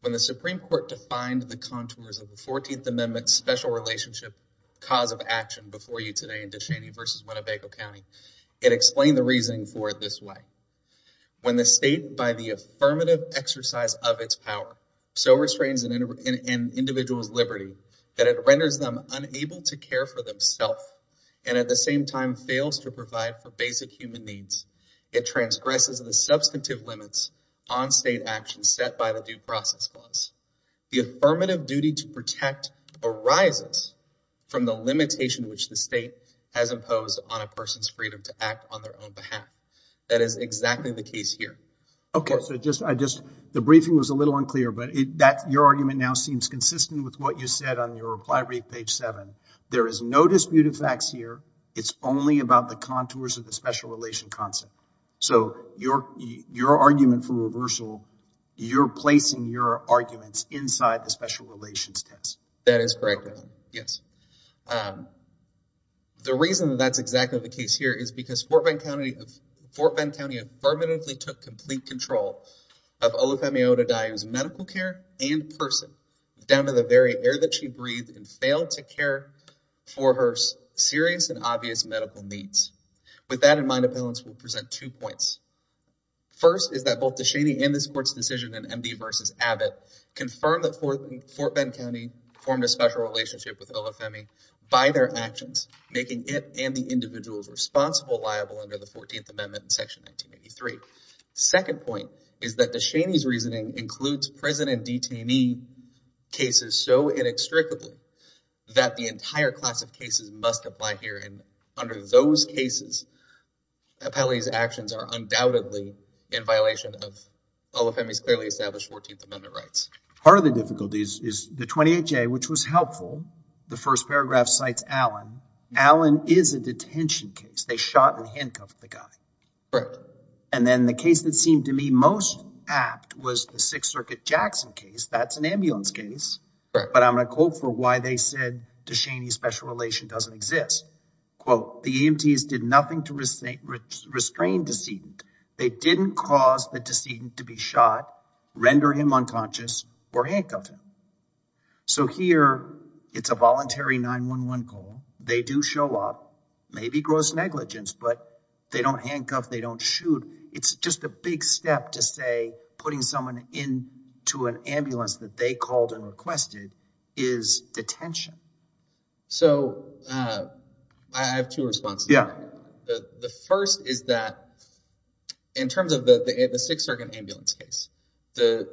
When the Supreme Court defined the contours of the 14th Amendment's special relationship cause of action before you today in Descheny v. Winnebago County, it explained the reasoning for it this way. When the state, by the affirmative exercise of its power, so restrains an individual's liberty that it renders them unable to care for themselves and at the same time fails to provide for basic human needs, it transgresses the substantive limits on state action set by the Due Process Clause. The affirmative duty to protect arises from the limitation which the state has imposed on a person's freedom to act on their own behalf. That is exactly the case here. Okay, so just, the briefing was a little unclear, but your argument now seems consistent with what you said on your reply brief, page 7. There is no dispute of facts here. It's only about the contours of the special relation concept. So your argument for reversal, you're placing your arguments inside the special relations test. That is correct, yes. The reason that's exactly the case here is because Fort Bend County affirmatively took complete control of OFMA Odadiah's medical care and person down to the very air that she breathed and failed to care for her serious and obvious medical needs. With that in mind, appellants will present two points. First is that both DeShaney and this court's decision in MD v. Abbott confirm that Fort Bend County formed a special relationship with OFMA by their actions, making it and the individuals responsible liable under the 14th Amendment in Section 1983. Second point is that DeShaney's reasoning includes prison and detainee cases so inextricably that the entire class of cases must apply here. And under those cases, appellee's actions are undoubtedly in violation of OFMA's clearly established 14th Amendment rights. Part of the difficulties is the 28J, which was helpful. The first paragraph cites Allen. Allen is a detention case. They shot and handcuffed the guy. And then the case that seemed to me most apt was the Sixth Circuit Jackson case. That's an ambulance case. But I'm going to quote for why they said DeShaney's special relation doesn't exist. Quote, the EMTs did nothing to restrain the decedent. They didn't cause the decedent to be shot, render him unconscious, or handcuff him. So here, it's a voluntary 911 call. They do show up, maybe gross negligence, but they don't handcuff, they don't shoot. It's just a big step to say putting someone into an ambulance that they called and requested is detention. So I have two responses. The first is that in terms of the Sixth Circuit ambulance case,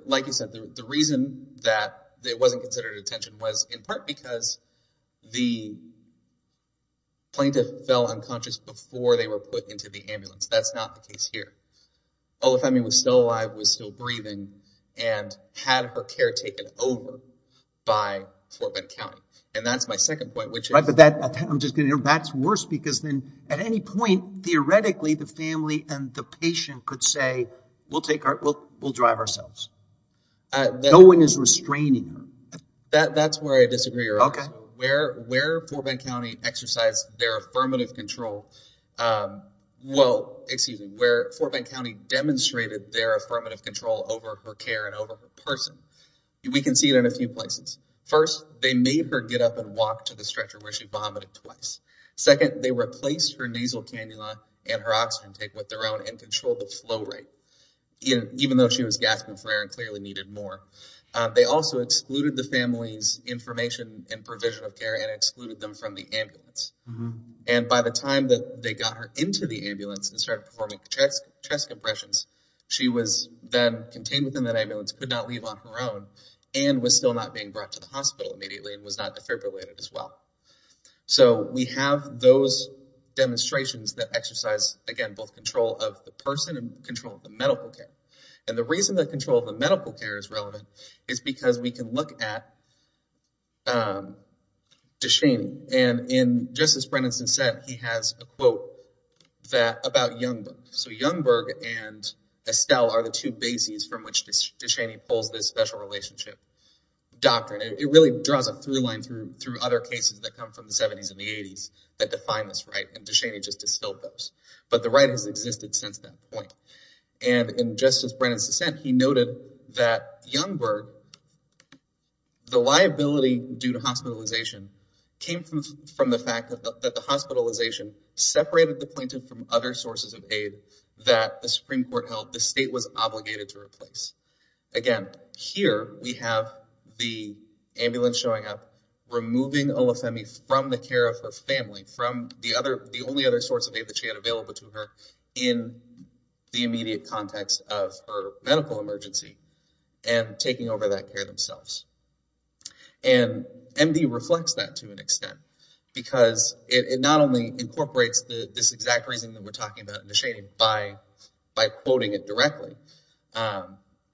like you said, the reason that it wasn't considered detention was in part because the plaintiff fell unconscious before they were put into the ambulance. That's not the case here. All the family was still alive, was still breathing, and had her care taken over by Fort Bend County. And that's my second point, which is- Right, but that, I'm just going to, that's worse because then at any point, theoretically, the family and the patient could say, we'll take our, we'll drive ourselves. No one is restraining her. That's where I disagree. Okay. Where Fort Bend County exercised their affirmative control, well, excuse me, where Fort Bend County demonstrated their affirmative control over her care and over her person, we can see it in a few places. First, they made her get up and walk to the stretcher where she vomited twice. Second, they replaced her nasal cannula and her oxygen take with their own and controlled the flow rate. Even though she was gasping for air and clearly needed more, they also excluded the family's information and provision of care and excluded them from the ambulance. And by the time that they got her into the ambulance and started performing chest compressions, she was then contained within that ambulance, could not leave on her own, and was still not being brought to the hospital immediately and was not defibrillated as well. So we have those demonstrations that exercise, again, both control of the person and control of the medical care. And the reason that control of the medical care is relevant is because we can look at DeShaney, and just as Brendan said, he has a quote about Youngberg. So Youngberg and Estelle are the two bases from which DeShaney pulls this special relationship doctrine. It really draws a through line through other cases that come from the 70s and the 80s that define this right, and DeShaney just distilled those. But the right has existed since that point. And in Justice Brendan's dissent, he noted that Youngberg, the liability due to hospitalization came from the fact that the hospitalization separated the plaintiff from other sources of aid that the Supreme Court held the state was obligated to replace. Again, here we have the ambulance showing up, removing Olufemi from the care of her family, from the only other source of aid that she had available to her in the immediate context of her medical emergency, and taking over that care themselves. And MD reflects that to an extent, because it not only incorporates this exact reason that we're talking about in DeShaney by quoting it directly,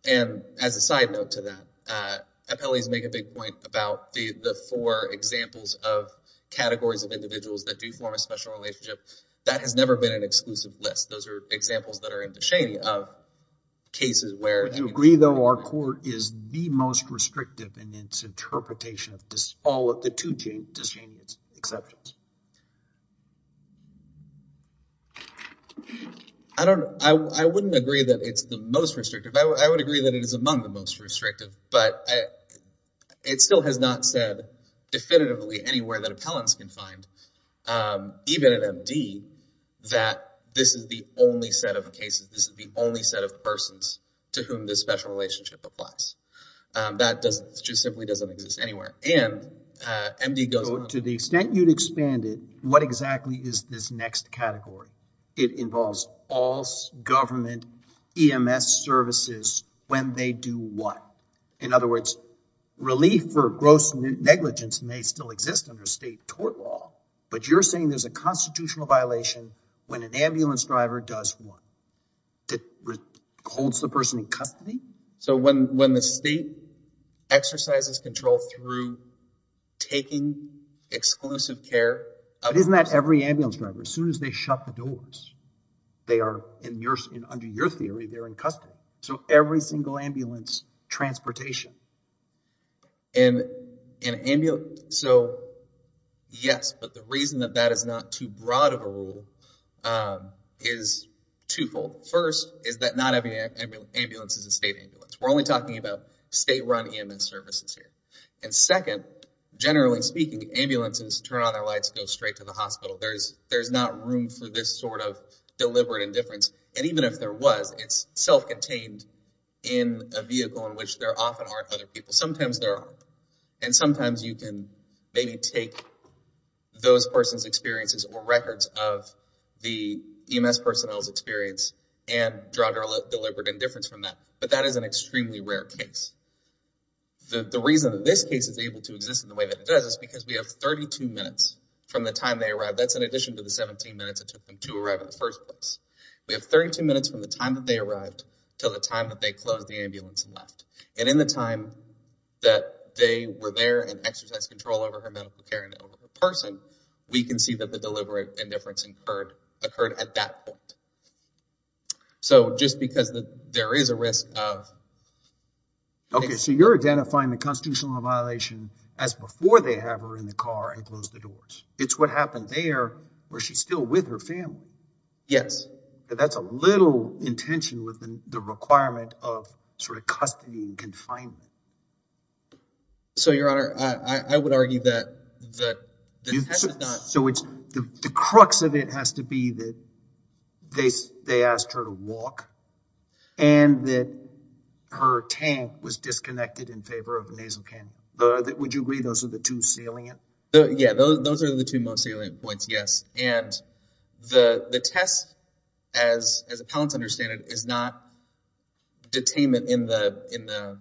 and as a side note to that, appellees make a big point about the four examples of categories of individuals that do form a special relationship. That has never been an exclusive list. Those are examples that are in DeShaney of cases where- Do you agree, though, our court is the most restrictive in its interpretation of all of the two DeShaney exceptions? I don't know. I wouldn't agree that it's the most restrictive. I would agree that it is among the most restrictive, but it still has not said definitively anywhere that appellants can find, even at MD, that this is the only set of cases, this is the only set of persons to whom this special relationship applies. That just simply doesn't exist anywhere. And MD goes on- To the extent you'd expand it, what exactly is this next category? It involves all government EMS services when they do what? In other words, relief for gross negligence may still exist under state tort law, but you're saying there's a constitutional violation when an ambulance driver does what? Holds the person in custody? So when the state exercises control through taking exclusive care of- But isn't that every ambulance driver? As soon as they shut the doors, they are, under your theory, they're in custody. So every single ambulance, transportation. So yes, but the reason that that is not too broad of a rule is twofold. First is that not every ambulance is a state ambulance. We're only talking about state-run EMS services here. And second, generally speaking, ambulances turn on their lights and go straight to the hospital. There's not room for this sort of deliberate indifference, and even if there was, it's self-contained in a vehicle in which there often aren't other people. Sometimes there are, and sometimes you can maybe take those person's experiences or records of the EMS personnel's experience and draw deliberate indifference from that. But that is an extremely rare case. The reason that this case is able to exist in the way that it does is because we have 32 minutes from the time they arrived. That's in addition to the 17 minutes it took them to arrive in the first place. We have 32 minutes from the time that they arrived till the time that they closed the ambulance and left. And in the time that they were there and exercised control over her medical care and over the person, we can see that the deliberate indifference occurred at that point. So, just because there is a risk of... Okay, so you're identifying the constitutional violation as before they have her in the car and closed the doors. It's what happened there where she's still with her family. Yes. But that's a little in tension with the requirement of sort of custody and confinement. So, Your Honor, I would argue that the test is not... So, the crux of it has to be that they asked her to walk and that her tank was disconnected in favor of a nasal can. Would you agree those are the two salient? Yeah, those are the two most salient points, yes. And the test, as appellants understand it, is not detainment in the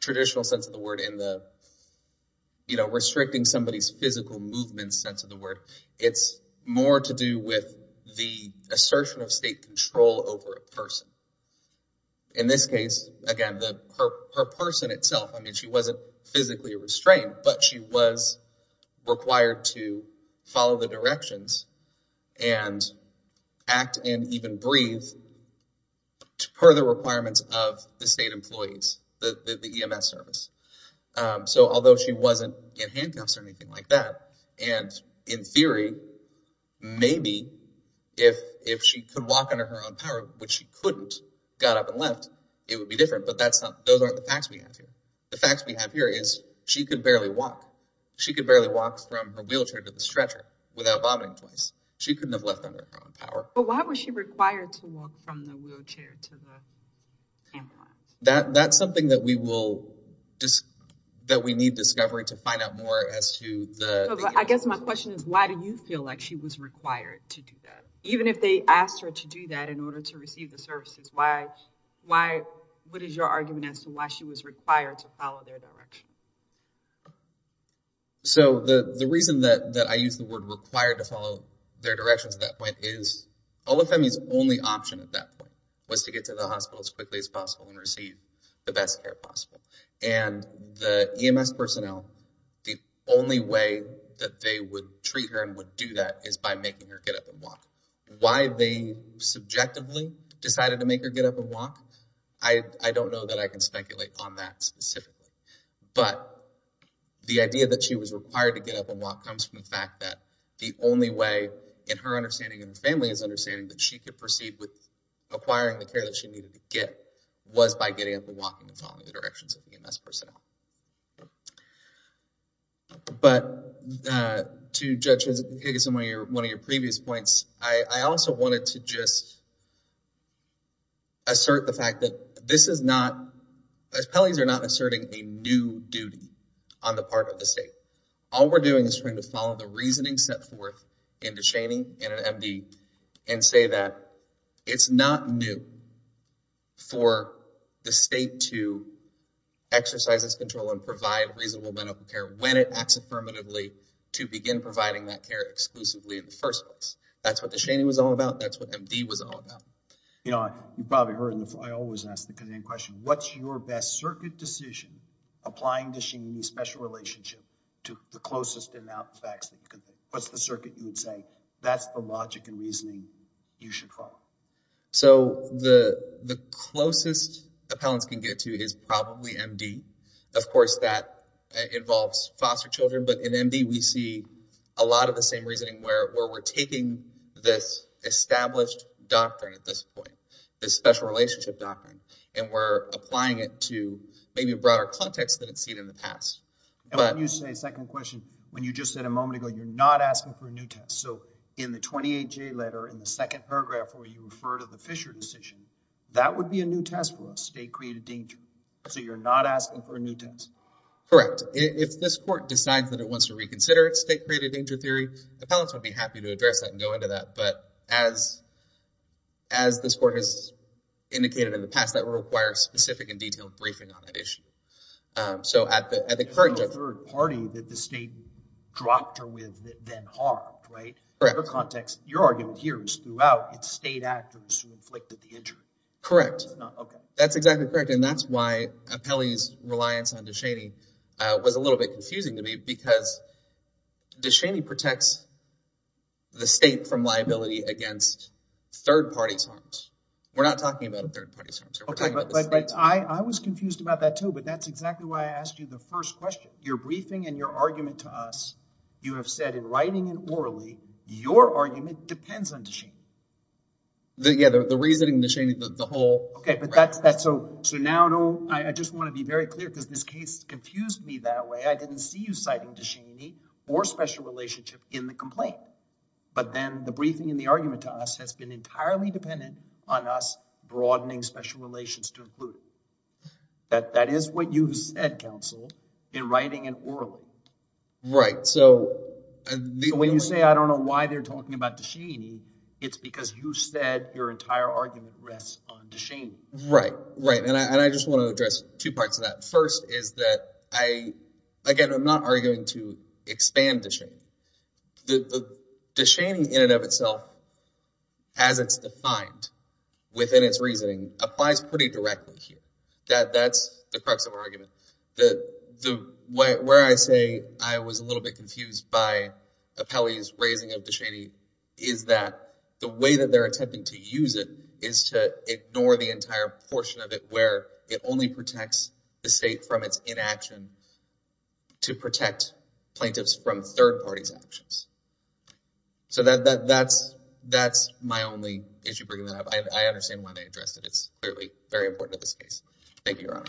traditional sense of the word in the, you know, restricting somebody's physical movement sense of the word. It's more to do with the assertion of state control over a person. In this case, again, her person itself, I mean, she wasn't physically restrained, but she was required to follow the directions and act and even breathe per the requirements of the state employees, the EMS service. So, although she wasn't in handcuffs or anything like that, and in theory, maybe if she could walk under her own power, which she couldn't, got up and left, it would be different. But that's not... Those aren't the facts we have here. The facts we have here is she could barely walk. She could barely walk from her wheelchair to the stretcher without vomiting twice. She couldn't have left under her own power. But why was she required to walk from the wheelchair to the handplants? That's something that we will... That we need discovery to find out more as to the... I guess my question is, why do you feel like she was required to do that? Even if they asked her to do that in order to receive the services, why... What is your argument as to why she was required to follow their direction? So, the reason that I use the word required to follow their directions at that point is, OFME's only option at that point was to get to the hospital as quickly as possible and receive the best care possible. And the EMS personnel, the only way that they would treat her and would do that is by making her get up and walk. Why they subjectively decided to make her get up and walk, I don't know that I can speculate on that specifically. But, the idea that she was required to get up and walk comes from the fact that the only way, in her understanding and the family's understanding, that she could proceed with acquiring the care that she needed to get was by getting up and walking and following the directions of the EMS personnel. But, to judge as one of your previous points, I also wanted to just assert the fact that this is not... a new duty on the part of the state. All we're doing is trying to follow the reasoning set forth into Cheney and MD and say that it's not new for the state to exercise this control and provide reasonable medical care when it acts affirmatively to begin providing that care exclusively in the first place. That's what the Cheney was all about. That's what MD was all about. You probably heard, and I always ask the Canadian question, what's your best circuit decision applying the Cheney special relationship to the closest amount of facts? What's the circuit you would say? That's the logic and reasoning you should follow. So, the closest appellants can get to is probably MD. Of course, that involves foster children. But, in MD, we see a lot of the same reasoning where we're taking this established doctrine at this point, this special relationship doctrine, and we're applying it to maybe a broader context than it's seen in the past. And let me just say a second question. When you just said a moment ago, you're not asking for a new test. So, in the 28J letter, in the second paragraph, where you refer to the Fisher decision, that would be a new test for a state-created danger. So, you're not asking for a new test. Correct. If this court decides that it wants to reconsider its state-created danger theory, the appellants would be happy to address that and go into that. But, as this court has indicated in the past, that would require a specific and detailed briefing on that issue. So, at the current judgment... It's not a third party that the state dropped her with, then harmed, right? Correct. In the context, your argument here is throughout, it's state actors who inflicted the injury. Correct. Okay. That's exactly correct. And that's why Apelli's reliance on De Cheney was a little bit confusing to me because De Cheney protects the state from liability against third-party harms. We're not talking about third-party harms. I was confused about that, too, but that's exactly why I asked you the first question. Your briefing and your argument to us, you have said in writing and orally, your argument depends on De Cheney. Yeah, the reasoning, De Cheney, the whole... Okay, but that's... So, now, I just want to be very clear, because this case confused me that way. I didn't see you citing De Cheney or special relationship in the complaint, but then the briefing and the argument to us has been entirely dependent on us broadening special relations to include. That is what you said, counsel, in writing and orally. Right, so... So, when you say, I don't know why they're talking about De Cheney, it's because you said your entire argument rests on De Cheney. Right, right, and I just want to address two parts of that. First is that I, again, I'm not arguing to expand De Cheney. De Cheney in and of itself, as it's defined within its reasoning, applies pretty directly here. That's the crux of our argument. Where I say I was a little bit confused by Apelli's raising of De Cheney is that the way that they're attempting to use it is to ignore the entire portion of it where it only protects the state from its inaction to protect plaintiffs from third parties' actions. So that's my only issue bringing that up. I understand why they addressed it. It's clearly very important in this case. Thank you, Your Honor.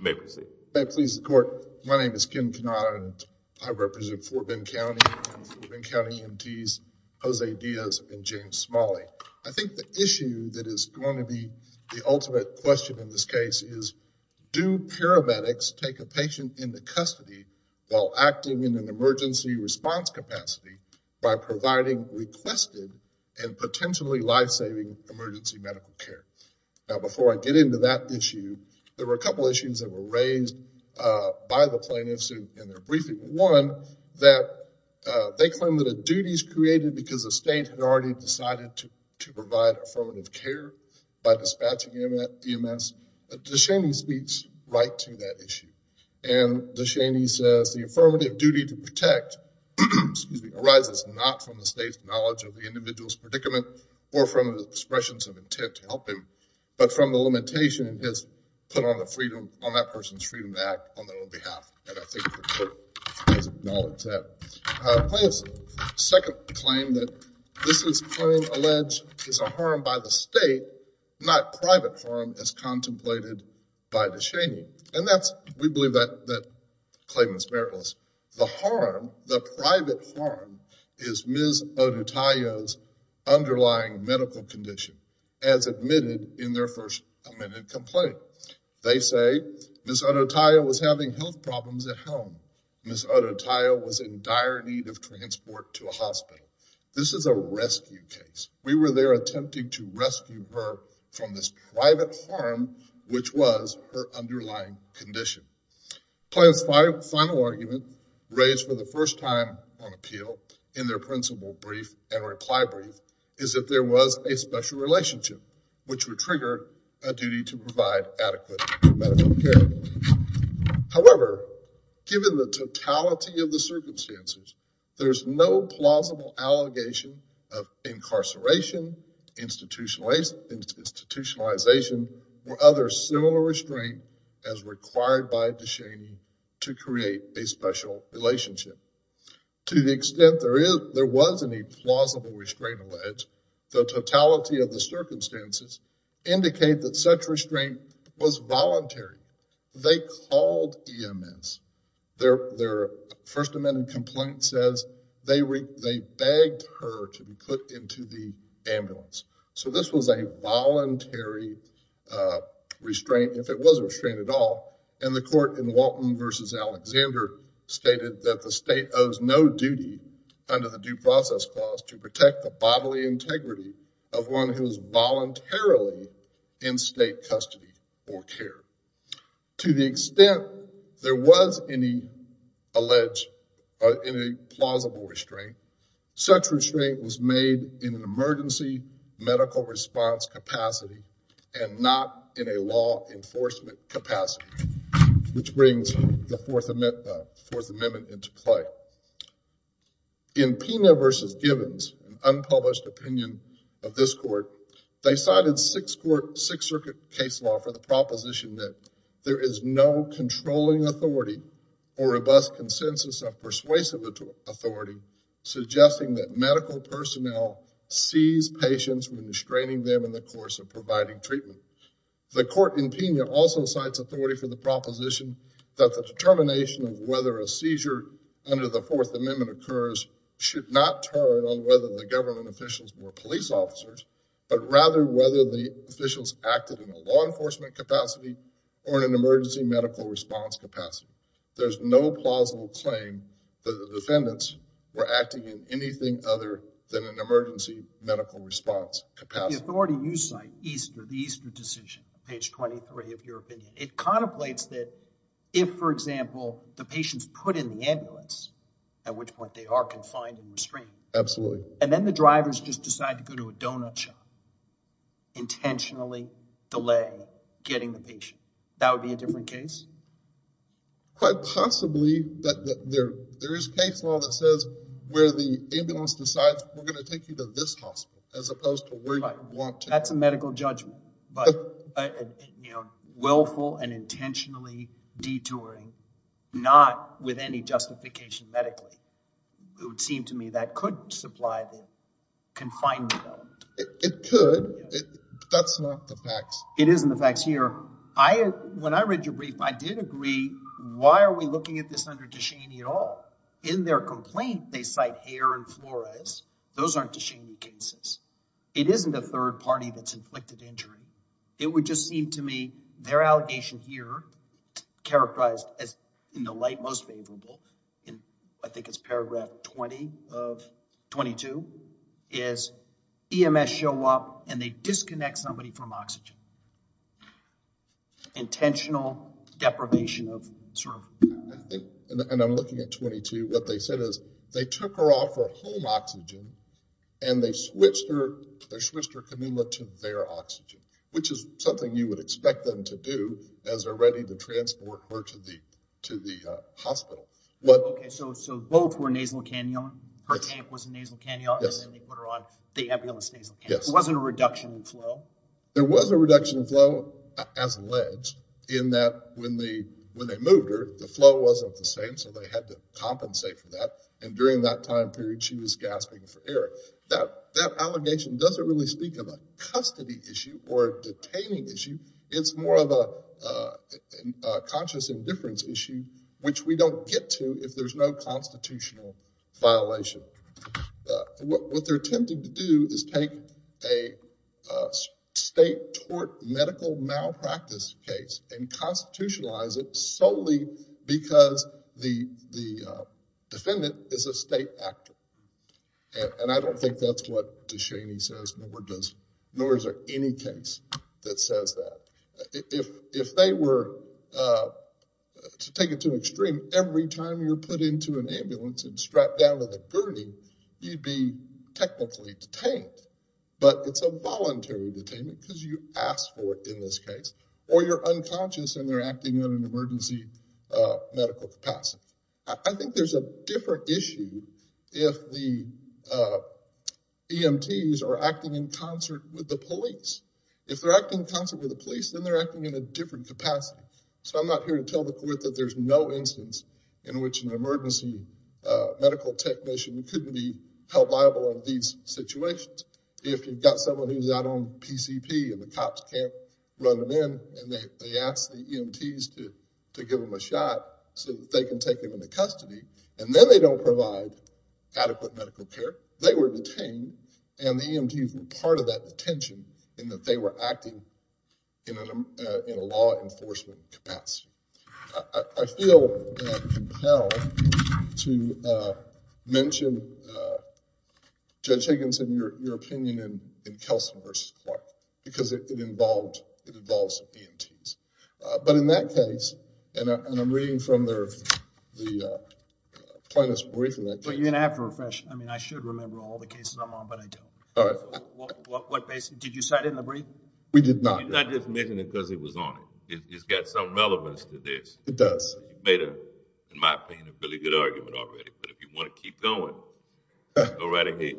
May I proceed? May I please the court? My name is Ken Kanata, and I represent Fort Bend County, Fort Bend County EMTs, Jose Diaz, and James Smalley. I think the issue that is going to be the ultimate question in this case and do they take a patient to the hospital while acting in an emergency response capacity by providing requested and potentially life-saving emergency medical care? Now, before I get into that issue, there were a couple of issues that were raised by the plaintiffs in their briefing. One, that they claim that a duty is created because the state had already decided to provide affirmative care by dispatching EMS. De Cheney speaks right to that issue. And De Cheney says, the affirmative duty to protect arises not from the state's knowledge of the individual's predicament or from the expressions of intent to help him, but from the limitation put on that person's freedom to act on their own behalf. And I think the court acknowledges that. Plaintiffs' second claim, that this claim alleged is a harm by the state, not private harm as contemplated by De Cheney. And we believe that claim is meritless. The harm, the private harm, is Ms. Odutayo's underlying medical condition, as admitted in their first amended complaint. They say Ms. Odutayo was having health problems at home. Ms. Odutayo was in dire need of transport to a hospital. This is a rescue case. We were there attempting to rescue her from this private harm, which was her underlying condition. Plaintiff's final argument, raised for the first time on appeal, in their principle brief and reply brief, is that there was a special relationship, which would trigger a duty to provide adequate medical care. However, given the totality of the circumstances, there's no plausible allegation of incarceration, institutionalization, or other similar restraint as required by De Cheney to create a special relationship. To the extent there was any plausible restraint alleged, the totality of the circumstances indicate that such restraint was voluntary. They called EMS. Their first amended complaint says they begged her to be put into the ambulance. So this was a voluntary restraint, if it was a restraint at all, and the court in Walton v. Alexander stated that the state owes no duty under the due process clause to protect the bodily integrity of one who is voluntarily in state custody or care. To the extent there was any alleged, any plausible restraint, such restraint was made in an emergency medical response capacity and not in a law enforcement capacity, which brings the Fourth Amendment into play. In Pena v. Givens, an unpublished opinion of this court, they cited Sixth Circuit case law for the proposition that there is no controlling authority or robust consensus of persuasive authority suggesting that medical personnel seize patients when restraining them in the course of providing treatment. The court in Pena also cites authority for the proposition that the determination of whether a seizure under the Fourth Amendment occurs should not turn on whether the government officials were police officers, but rather whether the officials acted in a law enforcement capacity or in an emergency medical response capacity. There's no plausible claim that the defendants were acting in anything other than an emergency medical response capacity. The authority you cite, the Easter decision, page 23 of your opinion, it contemplates that if, for example, the patients put in the ambulance, at which point they are confined and restrained. Absolutely. And then the drivers just decide to go to a donut shop, intentionally delay getting the patient. That would be a different case? Quite possibly that there is case law that says where the ambulance decides we're going to take you to this hospital as opposed to where you want to. That's a medical judgment, but willful and intentionally detouring, not with any justification medically. It would seem to me that could supply the confinement element. It could, but that's not the facts. It isn't the facts here. When I read your brief, I did agree. Why are we looking at this under Tichini at all? In their complaint, they cite hair and fluoresce. Those aren't Tichini cases. It isn't a third party that's inflicted injury. It would just seem to me their allegation here, characterized as in the light most favorable, and I think it's paragraph 20 of 22, is EMS show up and they disconnect somebody from oxygen. Intentional deprivation of service. And I'm looking at 22. What they said is they took her off her home oxygen and they switched her cannula to their oxygen, which is something you would expect them to do as they're ready to transport her to the hospital. So both were nasal cannula. Her camp was a nasal cannula, and then they put her on the ambulance nasal cannula. There wasn't a reduction in flow? There was a reduction in flow, as alleged, in that when they moved her, the flow wasn't the same, so they had to compensate for that, and during that time period she was gasping for air. That allegation doesn't really speak of a custody issue or a detaining issue. It's more of a conscious indifference issue, which we don't get to if there's no constitutional violation. What they're attempting to do is take a state-tort medical malpractice case and constitutionalize it solely because the defendant is a state actor, and I don't think that's what DeShaney says, nor is there any case that says that. If they were to take it to an extreme, every time you're put into an ambulance and strapped down with a gurney, you'd be technically detained, but it's a voluntary detainment because you asked for it in this case, or you're unconscious and they're acting in an emergency medical capacity. I think there's a different issue if the EMTs are acting in concert with the police. If they're acting in concert with the police, then they're acting in a different capacity. So I'm not here to tell the court that there's no instance in which an emergency medical technician couldn't be held liable in these situations. If you've got someone who's out on PCP and the cops can't run them in and they ask the EMTs to give them a shot so that they can take them into custody, and then they don't provide adequate medical care, they were detained, and the EMTs were part of that detention in that they were acting in a law enforcement capacity. I feel compelled to mention Judge Higginson, your opinion in Kelsen v. Clark because it involves EMTs. But in that case, and I'm reading from the plaintiff's briefing, I should remember all the cases I'm on, but I don't. Did you cite it in the brief? We did not. He's not just mentioning it because it was on it. It's got some relevance to this. It does. You've made, in my opinion, a really good argument already. But if you want to keep going, go right ahead.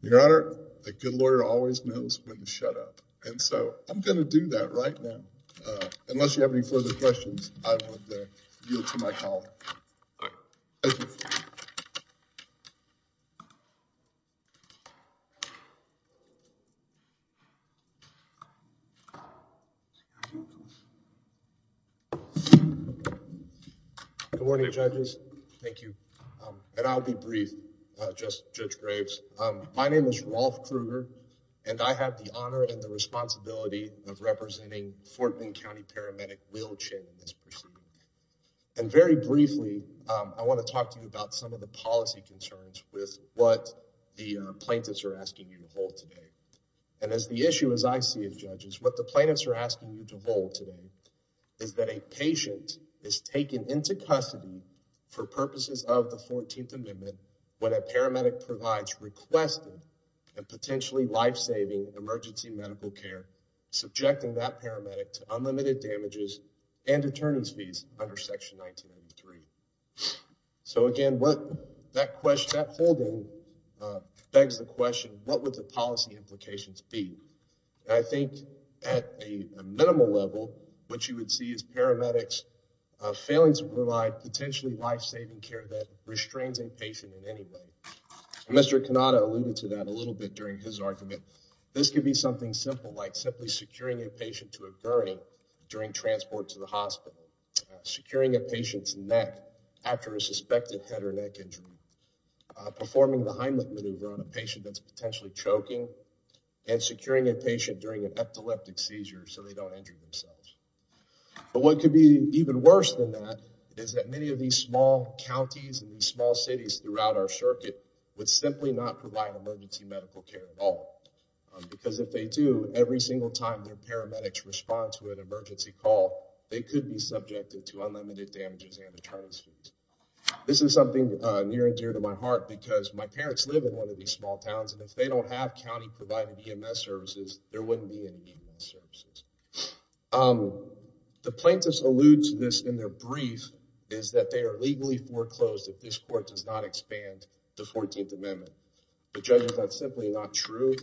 Your Honor, a good lawyer always knows when to shut up. So I'm going to do that right now. Unless you have any further questions, I would yield to my colleague. Thank you. Good morning, judges. Thank you. And I'll be brief, Judge Graves. My name is Rolf Krueger, and I have the honor and the responsibility of representing Fort Linn County Paramedic Will Chin. And very briefly, I want to talk to you about some of the policy concerns with what the plaintiffs are asking you to hold today. And as the issue, as I see it, judges, what the plaintiffs are asking you to hold today is that a patient is taken into custody for purposes of the 14th amendment when a paramedic provides requested and potentially lifesaving emergency medical care, subjecting that paramedic to unlimited damages and attorney's fees under section 1983. So again, what that question, that holding begs the question, what would the policy implications be? And I think at a minimal level, what you would see is paramedics failing to provide potentially lifesaving care that restrains a patient in any way. Mr. Cannata alluded to that a little bit during his argument. This could be something simple, like simply securing a patient to a burning during transport to the hospital, securing a patient's neck after a suspected head or neck injury, performing the Heimlich maneuver on a patient that's potentially choking and securing a patient during an epileptic seizure so they don't injure themselves. But what could be even worse than that is that many of these small counties and small cities throughout our circuit would simply not provide emergency medical care at all. Because if they do every single time, their paramedics respond to an emergency call, they could be subjected to unlimited damages and attorney's fees. This is something near and dear to my heart because my parents live in one of these small towns. And if they don't have County provided EMS services, there wouldn't be any services. The plaintiffs alludes to this in their brief is that they are legally foreclosed. If this court does not expand the 14th amendment, the judges, that's simply not true.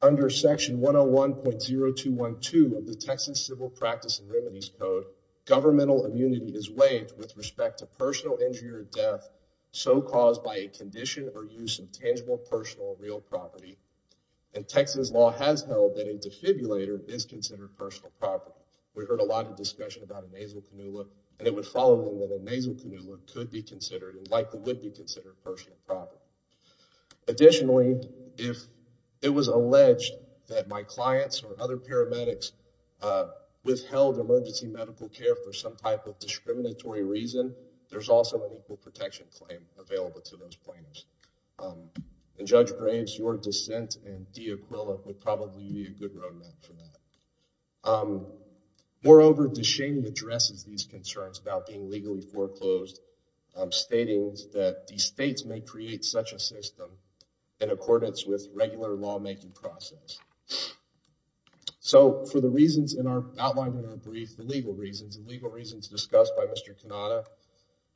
Under section one Oh 1.0, two one two of the Texas civil practice and remedies code governmental immunity is waived with respect to personal injury or death. So caused by a condition or use of tangible, personal, real property. And Texas law has held that a defibrillator is considered personal property. We heard a lot of discussion about a nasal canola and it would follow that a nasal canola could be considered, likely would be considered personal property. Additionally, if it was alleged that my clients or other paramedics, uh, withheld emergency medical care for some type of discriminatory reason, there's also an equal protection claim available to those plaintiffs. Um, and judge Graves, your dissent and the equivalent would probably be a good roadmap for that. Um, moreover to shame addresses these concerns about being legally foreclosed, um, statings that the States may create such a system in accordance with regular lawmaking process. So for the reasons in our outline in our brief, the legal reasons, the legal reasons discussed by Mr.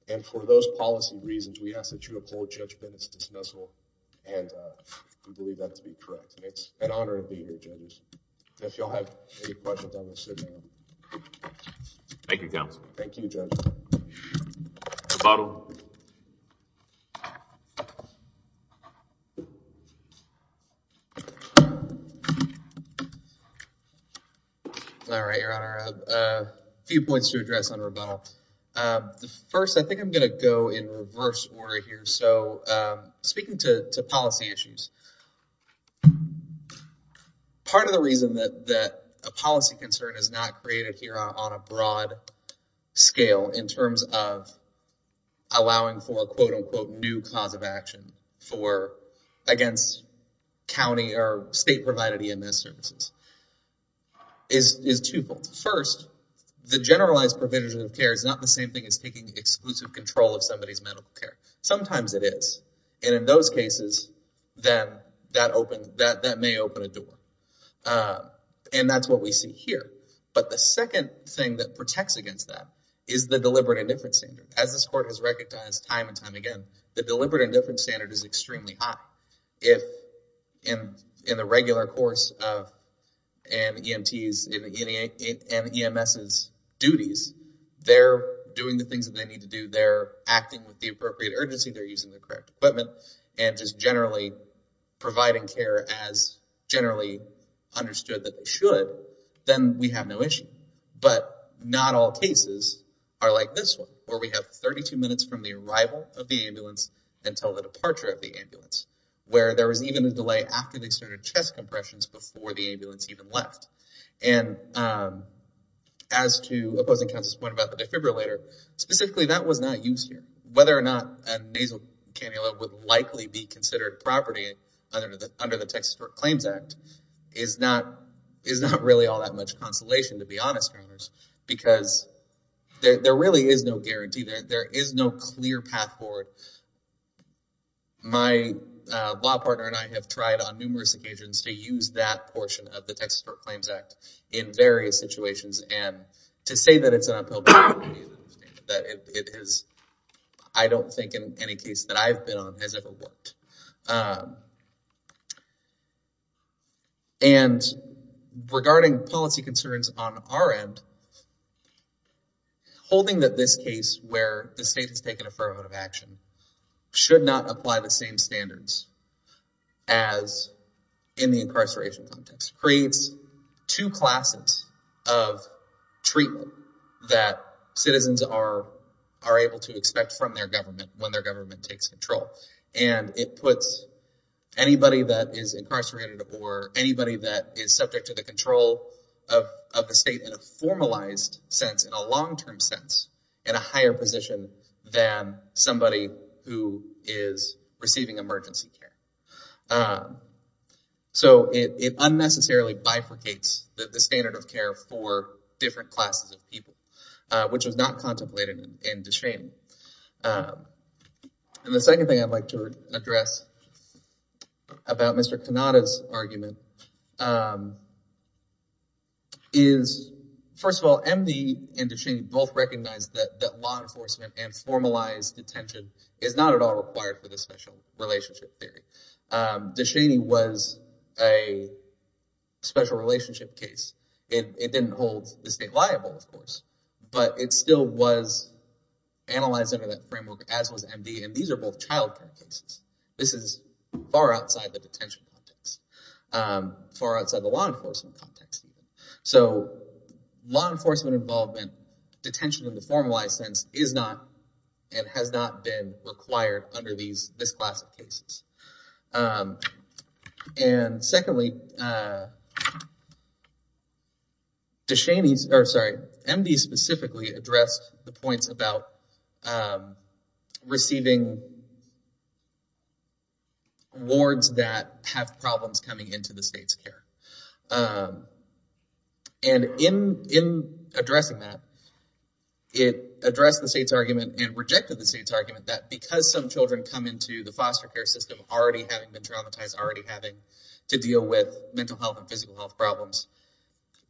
And for those policy reasons, we ask that you uphold judgment dismissal. And, uh, we believe that to be correct. And it's an honor of being here. If y'all have any questions on this. Thank you. Thank you. A bottle. All right, your Honor. A few points to address on rebuttal. Uh, the first, I think I'm going to go in reverse order here. So, um, speaking to, to policy issues, part of the reason that, that a policy concern is not created here on a broad scale in terms of allowing for a quote unquote, new cause of action for against County or state provided EMS services is, is twofold. First, the generalized provision of care is not the same thing as taking exclusive control of somebody's medical care. Sometimes it is. And in those cases, then that opened that, that may open a door. Uh, and that's what we see here. But the second thing that protects against that is the deliberate indifference standard. As this court has recognized time and time again, the deliberate indifference standard is extremely high. If in, in the regular course of an EMT's and EMS's duties, they're doing the things that they need to do, they're acting with the appropriate urgency, they're using the correct equipment and just generally providing care as generally understood that they should, then we have no issue. But not all cases are like this one, where we have 32 minutes from the arrival of the ambulance until the departure of the ambulance, where there was even a delay after they started chest compressions before the ambulance even left. And, um, as to opposing counsel's point about the defibrillator specifically, that was not used here, whether or not a nasal cannula would likely be considered property under the, under the Texas claims act is not, is not really all that much consolation to be honest, because there, there really is no guarantee that there is no clear path forward. My, uh, law partner and I have tried on numerous occasions to use that portion of the Texas court claims act in various situations. And to say that it's an uphill battle, that it is, I don't think in any case that I've been on has ever worked. Um, and regarding policy concerns on our end, holding that this case where the state has taken affirmative action should not apply the same standards as in the incarceration context creates two classes of treatment that citizens are, are able to expect from their government when their government takes control. And it puts anybody that is incarcerated or anybody that is subject to the control of, of the state in a formalized sense in a long-term sense and a higher position than somebody who is receiving emergency care. Um, so it, it unnecessarily bifurcates the standard of care for different classes of people, which was not contemplated in disdain. Um, and the second thing I'd like to address about Mr. Cannata's argument, um, is first of all, MD and Ducheney both recognize that that law enforcement and formalized detention is not at all required for the special relationship theory. Um, Ducheney was a special relationship case. It didn't hold the state liable, of course, but it still was analyzed under that framework as was MD. And these are both childcare cases. This is far outside the detention context, um, far outside the law enforcement context. So law enforcement involvement, detention in the formalized sense is not, and has not been required under these, this class of cases. Um, and secondly, uh, Ducheney's, or sorry, MD specifically addressed the points about, um, receiving wards that have problems coming into the state's care. Um, and in, in addressing that, it addressed the state's argument and rejected the state's argument that because some children come into the foster care system already having been traumatized, already having to deal with mental health and physical health problems,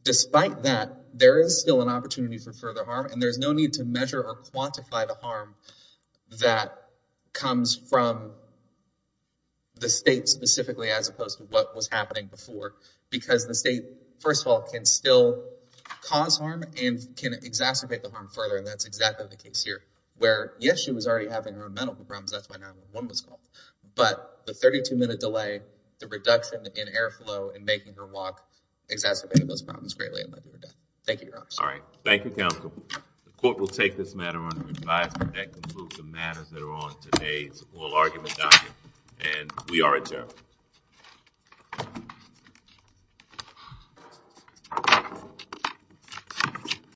despite that there is still an opportunity for further harm. And there's no need to measure or quantify the harm that comes from the state specifically, as opposed to what was happening before, because the state, first of all, can still cause harm and can exacerbate the harm further. And that's exactly the case here where yes, she was already having her own mental problems. That's why 911 was called, but the 32 minute delay, the reduction in airflow and making her walk exacerbated those problems greatly. Thank you. All right. Thank you. Council. The court will take this matter under advisement. That concludes the matters that are on today's oral argument document. And we are adjourned.